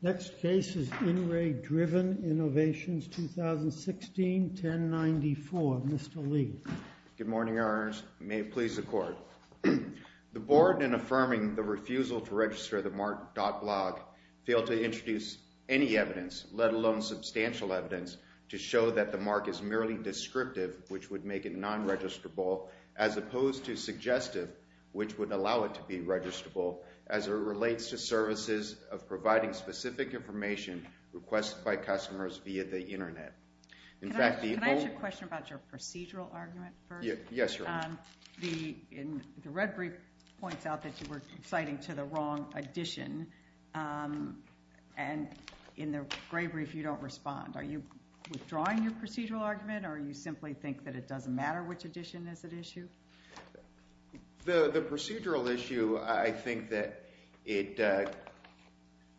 Next case is In Re Driven Innovations, 2016-1094. Mr. Lee. Good morning, Your Honors. May it please the Court. The Board, in affirming the refusal to register the MARC.blog, failed to introduce any evidence, let alone substantial evidence, to show that the MARC is merely descriptive, which would make it non-registrable, as opposed to suggestive, which would allow it to be registrable, as it relates to services of providing specific information requested by customers via the Internet. Can I ask you a question about your procedural argument first? Yes, Your Honor. The red brief points out that you were citing to the wrong edition, and in the gray brief you don't respond. Are you withdrawing your procedural argument, The procedural issue, I think that it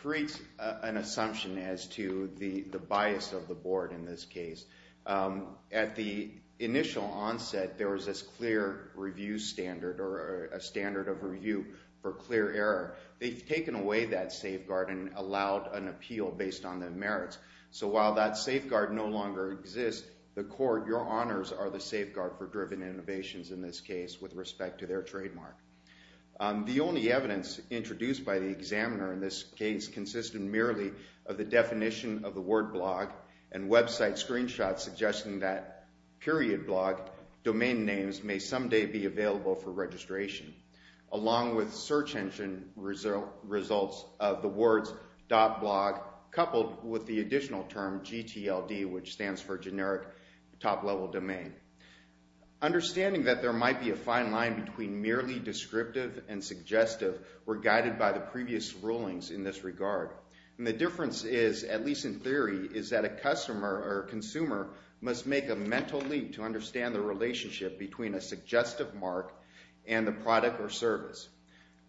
creates an assumption as to the bias of the Board in this case. At the initial onset, there was this clear review standard, or a standard of review for clear error. They've taken away that safeguard and allowed an appeal based on the merits. Customers are the safeguard for driven innovations in this case with respect to their trademark. The only evidence introduced by the examiner in this case consisted merely of the definition of the word blog and website screenshots suggesting that period blog domain names may someday be available for registration, along with search engine results of the words .blog coupled with the additional term .gtld, which stands for generic top-level domain. Understanding that there might be a fine line between merely descriptive and suggestive were guided by the previous rulings in this regard. And the difference is, at least in theory, is that a customer or consumer must make a mental leap to understand the relationship between a suggestive mark and the product or service.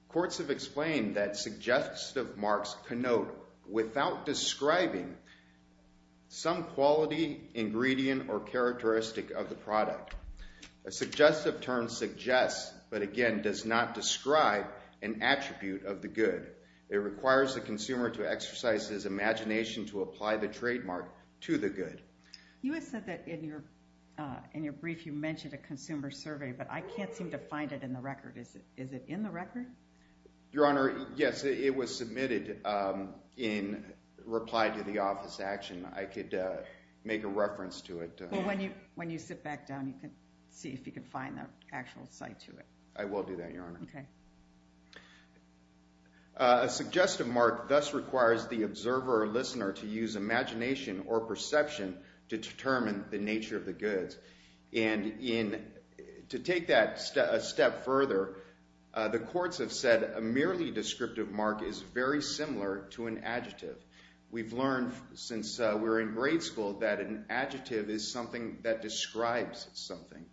Courts have explained that suggestive marks connote without describing some quality, ingredient, or characteristic of the product. A suggestive term suggests, but again does not describe, an attribute of the good. It requires the consumer to exercise his imagination to apply the trademark to the good. You had said that in your brief you mentioned a consumer survey, but I can't seem to find it in the record. Is it in the record? Your Honor, yes, it was submitted in reply to the office action. I could make a reference to it. Well, when you sit back down, you can see if you can find the actual site to it. I will do that, Your Honor. Okay. A suggestive mark thus requires the observer or listener to use imagination or perception to determine the nature of the goods. And to take that a step further, the courts have said a merely descriptive mark is very similar to an adjective. We've learned since we were in grade school that an adjective is something that describes something.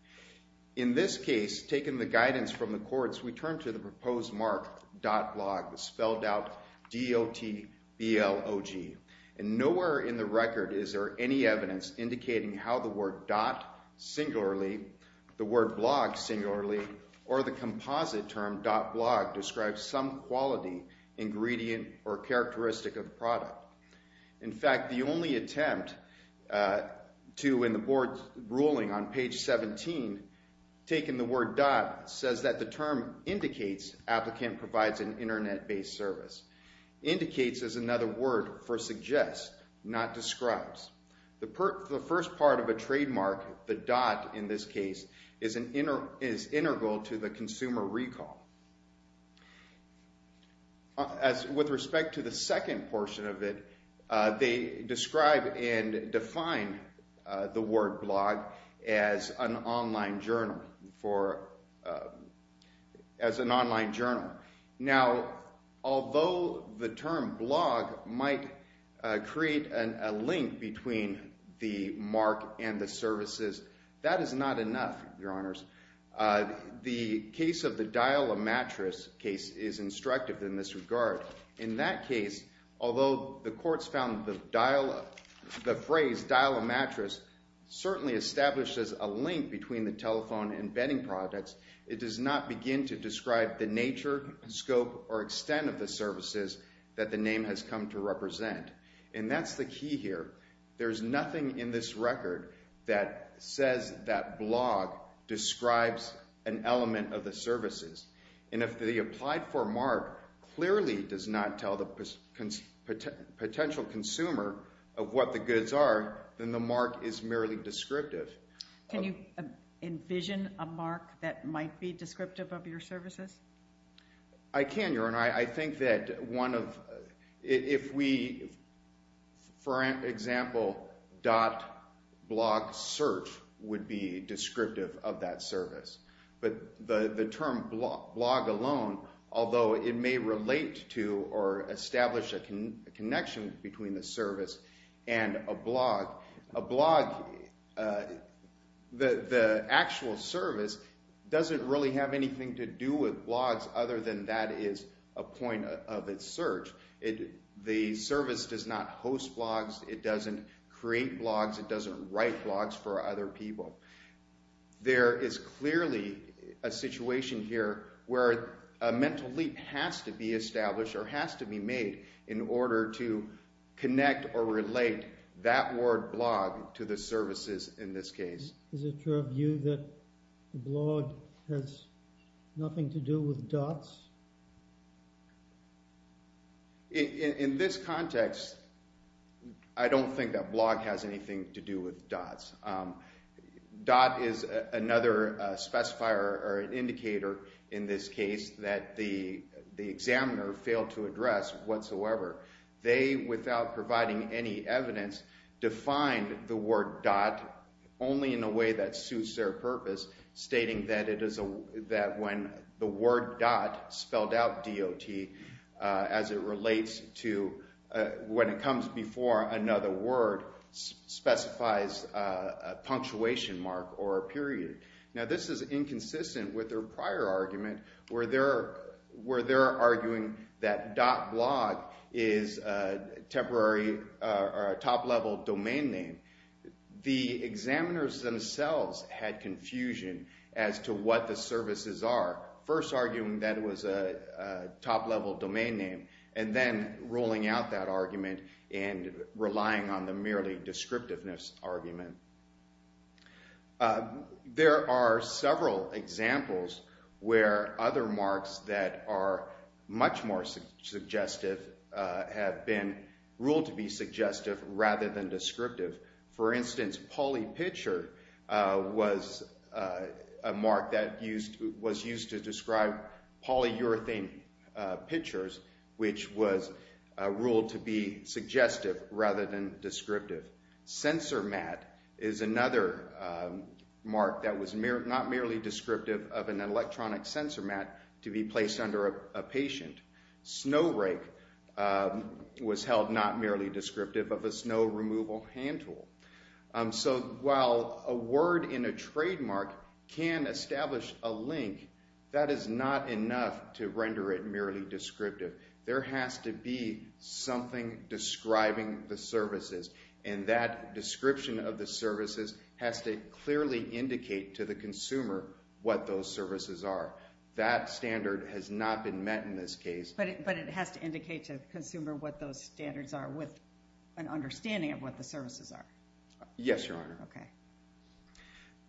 In this case, taking the guidance from the courts, we turn to the proposed mark dot blog, spelled out D-O-T-B-L-O-G. And nowhere in the record is there any evidence indicating how the word dot singularly, the word blog singularly, or the composite term dot blog describes some quality, ingredient, or characteristic of the product. In fact, the only attempt to, in the board's ruling on page 17, taking the word dot says that the term indicates applicant provides an Internet-based service. Indicates is another word for suggest, not describes. The first part of a trademark, the dot in this case, is integral to the consumer recall. With respect to the second portion of it, they describe and define the word blog as an online journal. As an online journal. Now, although the term blog might create a link between the mark and the services, that is not enough, your honors. The case of the dial a mattress case is instructive in this regard. In that case, although the courts found the phrase dial a mattress certainly establishes a link between the telephone and bedding products, it does not begin to describe the nature, scope, or extent of the services that the name has come to represent. And that's the key here. There's nothing in this record that says that blog describes an element of the services. And if the applied for mark clearly does not tell the potential consumer of what the goods are, then the mark is merely descriptive. Can you envision a mark that might be descriptive of your services? I can, your honor. I think that if we, for example, dot blog search would be descriptive of that service. But the term blog alone, although it may relate to or establish a connection between the service and a blog, a blog, the actual service, doesn't really have anything to do with blogs other than that is a point of its search. The service does not host blogs. It doesn't create blogs. It doesn't write blogs for other people. There is clearly a situation here where a mental leap has to be established or has to be made in order to connect or relate that word blog to the services in this case. Is it your view that blog has nothing to do with dots? In this context, I don't think that blog has anything to do with dots. Dot is another specifier or an indicator in this case that the examiner failed to address whatsoever. They, without providing any evidence, defined the word dot only in a way that suits their purpose, stating that when the word dot spelled out D-O-T as it relates to when it comes before another word specifies a punctuation mark or a period. Now this is inconsistent with their prior argument where they're arguing that dot blog is a top level domain name. The examiners themselves had confusion as to what the services are, first arguing that it was a top level domain name and then rolling out that argument and relying on the merely descriptiveness argument. There are several examples where other marks that are much more suggestive have been ruled to be suggestive rather than descriptive. For instance, polypitcher was a mark that was used to describe polyurethane pitchers, which was ruled to be suggestive rather than descriptive. Sensormat is another mark that was not merely descriptive of an electronic sensormat to be placed under a patient. Snowrake was held not merely descriptive of a snow removal hand tool. So while a word in a trademark can establish a link, that is not enough to render it merely descriptive. There has to be something describing the services and that description of the services has to clearly indicate to the consumer what those services are. That standard has not been met in this case. But it has to indicate to the consumer what those standards are with an understanding of what the services are. Yes, Your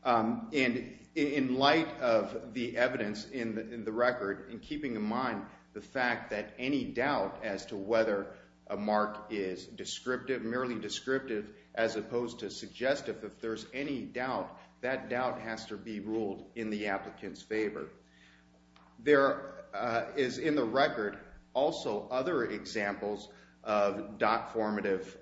Honor. And in light of the evidence in the record and keeping in mind the fact that any doubt as to whether a mark is descriptive, merely descriptive, as opposed to suggestive, if there's any doubt, that doubt has to be ruled in the applicant's favor. There is in the record also other examples of DOT formative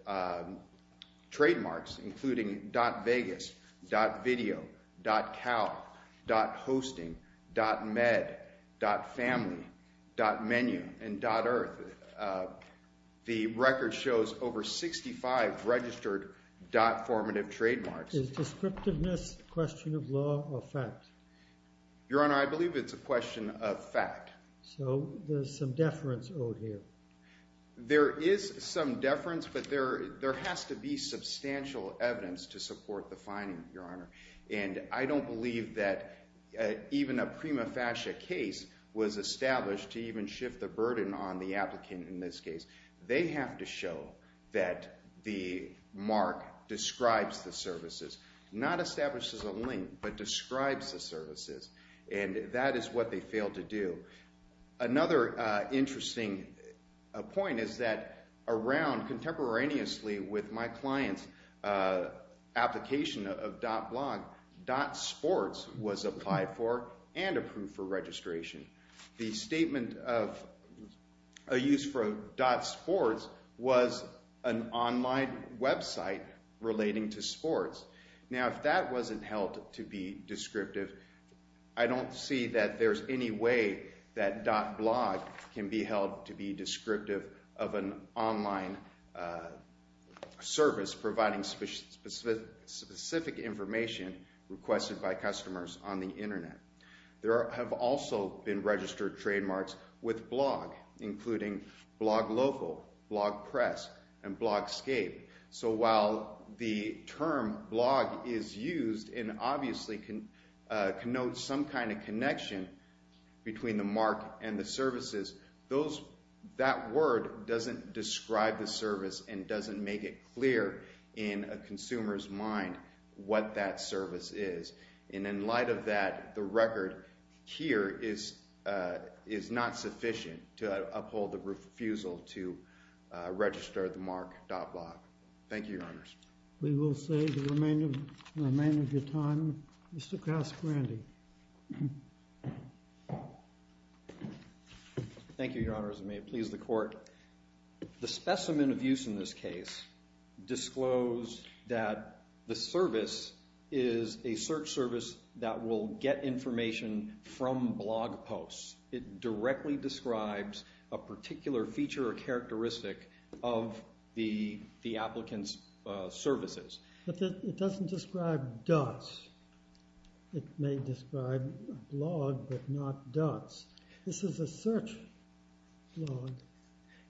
trademarks, including DOT Vegas, DOT Video, DOT Cal, DOT Hosting, DOT Med, DOT Family, DOT Menu, and DOT Earth. The record shows over 65 registered DOT formative trademarks. Is descriptiveness a question of law or fact? Your Honor, I believe it's a question of fact. So there's some deference owed here. There is some deference, but there has to be substantial evidence to support the finding, Your Honor. And I don't believe that even a prima facie case was established to even shift the burden on the applicant in this case. They have to show that the mark describes the services, not establishes a link, but describes the services, and that is what they failed to do. Another interesting point is that around contemporaneously with my client's application of DOT blog, DOT sports was applied for and approved for registration. The statement of a use for DOT sports was an online website relating to sports. Now, if that wasn't held to be descriptive, I don't see that there's any way that DOT blog can be held to be descriptive of an online service providing specific information requested by customers on the Internet. There have also been registered trademarks with blog, including blog local, blog press, and blog scape. So while the term blog is used and obviously connotes some kind of connection between the mark and the services, that word doesn't describe the service and doesn't make it clear in a consumer's mind what that service is. And in light of that, the record here is not sufficient to uphold the refusal to register the mark DOT blog. Thank you, Your Honors. We will save the remainder of your time. Mr. Casperanti. Thank you, Your Honors. May it please the Court. The specimen of use in this case disclosed that the service is a search service that will get information from blog posts. It directly describes a particular feature or characteristic of the applicant's services. But it doesn't describe DOTs. It may describe a blog, but not DOTs. This is a search blog.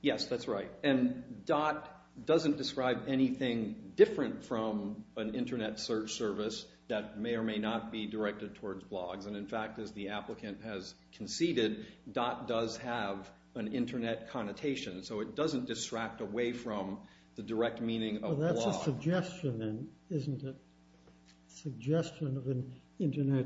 Yes, that's right. And DOT doesn't describe anything different from an Internet search service that may or may not be directed towards blogs. And in fact, as the applicant has conceded, DOT does have an Internet connotation. So it doesn't distract away from the direct meaning of blog. Well, that's a suggestion, then, isn't it? A suggestion of an Internet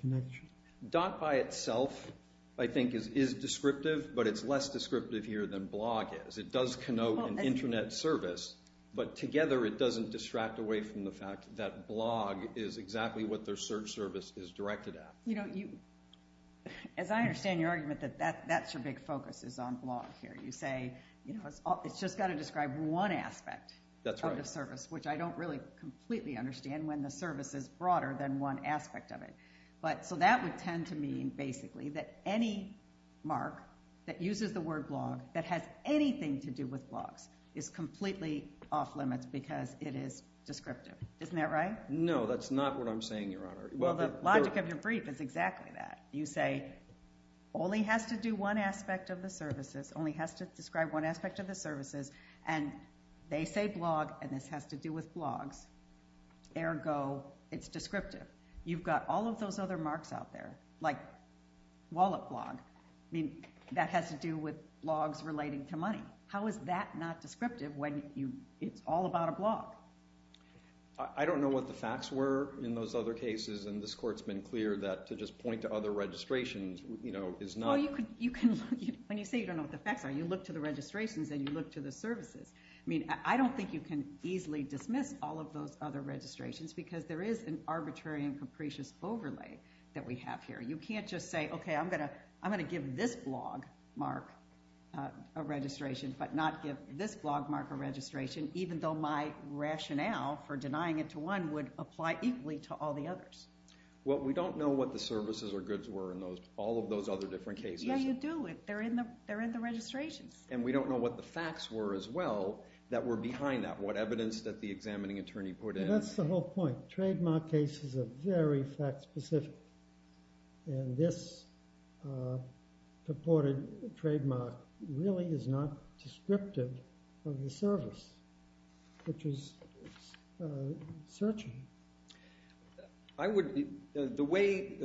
connection. DOT by itself, I think, is descriptive, but it's less descriptive here than blog is. It does connote an Internet service, but together it doesn't distract away from the fact that blog is exactly what their search service is directed at. You know, as I understand your argument that that's your big focus is on blog here. You say it's just got to describe one aspect of the service, which I don't really completely understand when the service is broader than one aspect of it. So that would tend to mean, basically, that any mark that uses the word blog that has anything to do with blogs is completely off-limits because it is descriptive. Isn't that right? No, that's not what I'm saying, Your Honor. Well, the logic of your brief is exactly that. You say only has to do one aspect of the services, only has to describe one aspect of the services, and they say blog, and this has to do with blogs. Ergo, it's descriptive. You've got all of those other marks out there, like wallet blog. I mean, that has to do with blogs relating to money. How is that not descriptive when it's all about a blog? I don't know what the facts were in those other cases, and this Court's been clear that to just point to other registrations, you know, is not... Well, when you say you don't know what the facts are, you look to the registrations and you look to the services. I mean, I don't think you can easily dismiss all of those other registrations because there is an arbitrary and capricious overlay that we have here. You can't just say, okay, I'm going to give this blog mark a registration but not give this blog mark a registration, even though my rationale for denying it to one would apply equally to all the others. Well, we don't know what the services or goods were in all of those other different cases. Yeah, you do. They're in the registrations. And we don't know what the facts were as well that were behind that, what evidence that the examining attorney put in. That's the whole point. Trademark cases are very fact-specific. And this purported trademark really is not descriptive of the service, which is searching. I would... The way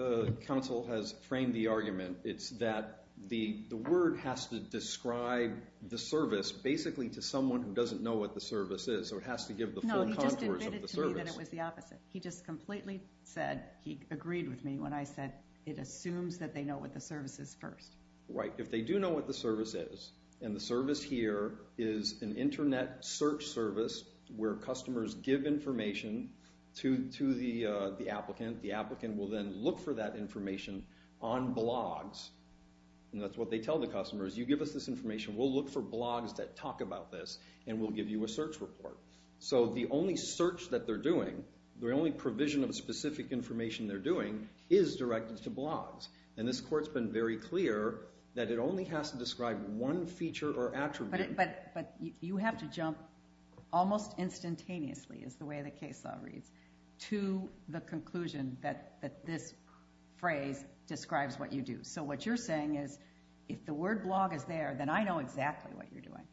counsel has framed the argument, it's that the word has to describe the service basically to someone who doesn't know what the service is, so it has to give the full contours of the service. I would argue that it was the opposite. He just completely said... He agreed with me when I said it assumes that they know what the service is first. Right. If they do know what the service is, and the service here is an Internet search service where customers give information to the applicant, the applicant will then look for that information on blogs. And that's what they tell the customers. You give us this information, we'll look for blogs that talk about this, and we'll give you a search report. So the only search that they're doing, the only provision of specific information they're doing, is directed to blogs. And this court's been very clear that it only has to describe one feature or attribute. But you have to jump almost instantaneously, is the way the case law reads, to the conclusion that this phrase describes what you do. So what you're saying is, if the word blog is there, then I know exactly what you're doing.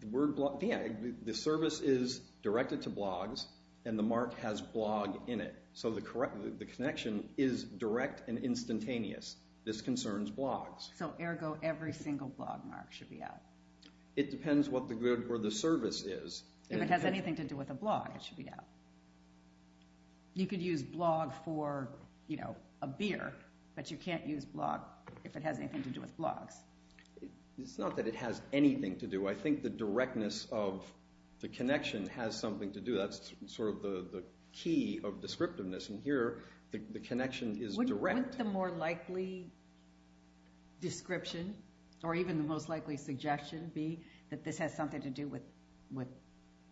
The word blog... Well, yeah. The service is directed to blogs, and the mark has blog in it. So the connection is direct and instantaneous. This concerns blogs. So, ergo, every single blog mark should be out. It depends what the word or the service is. If it has anything to do with a blog, it should be out. You could use blog for, you know, a beer, but you can't use blog if it has anything to do with blogs. It's not that it has anything to do. I think the directness of the connection has something to do. That's sort of the key of descriptiveness. And here, the connection is direct. Wouldn't the more likely description, or even the most likely suggestion, be that this has something to do with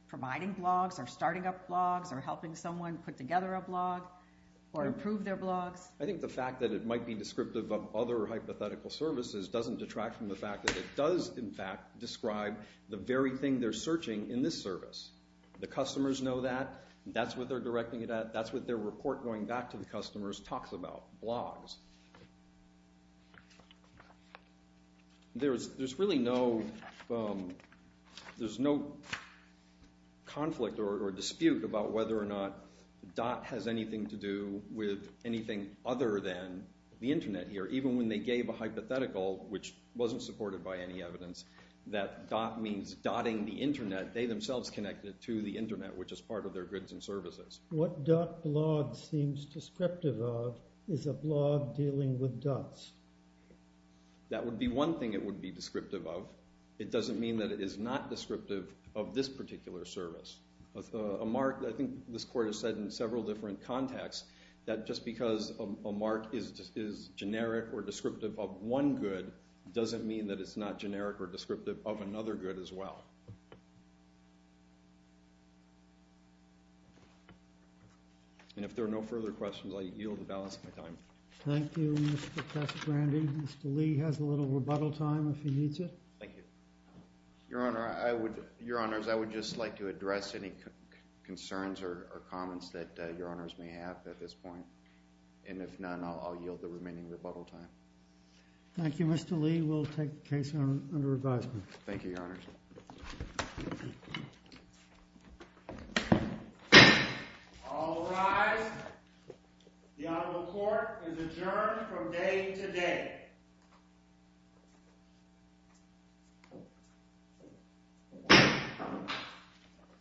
providing blogs or starting up blogs or helping someone put together a blog or improve their blogs? I think the fact that it might be descriptive of other hypothetical services doesn't detract from the fact that it does, in fact, describe the very thing they're searching in this service. The customers know that. That's what they're directing it at. That's what their report going back to the customers talks about, blogs. There's really no... There's no conflict or dispute about whether or not DOT has anything to do with anything other than the Internet here, even when they gave a hypothetical which wasn't supported by any evidence that DOT means dotting the Internet. They themselves connected to the Internet, which is part of their goods and services. What DOT blog seems descriptive of is a blog dealing with dots. That would be one thing it would be descriptive of. It doesn't mean that it is not descriptive of this particular service. A mark, I think this court has said in several different contexts, that just because a mark is generic or descriptive of one good doesn't mean that it's not generic or descriptive of another good as well. And if there are no further questions, I yield the balance of my time. Thank you, Mr. Casagrande. Mr. Lee has a little rebuttal time if he needs it. Thank you. Your Honor, I would... Your Honors, I would just like to address any concerns or comments that Your Honors may have at this point. And if none, I'll yield the remaining rebuttal time. Thank you, Mr. Lee. We'll take the case under advisement. Thank you, Your Honors. All rise. The Honorable Court is adjourned from day to day.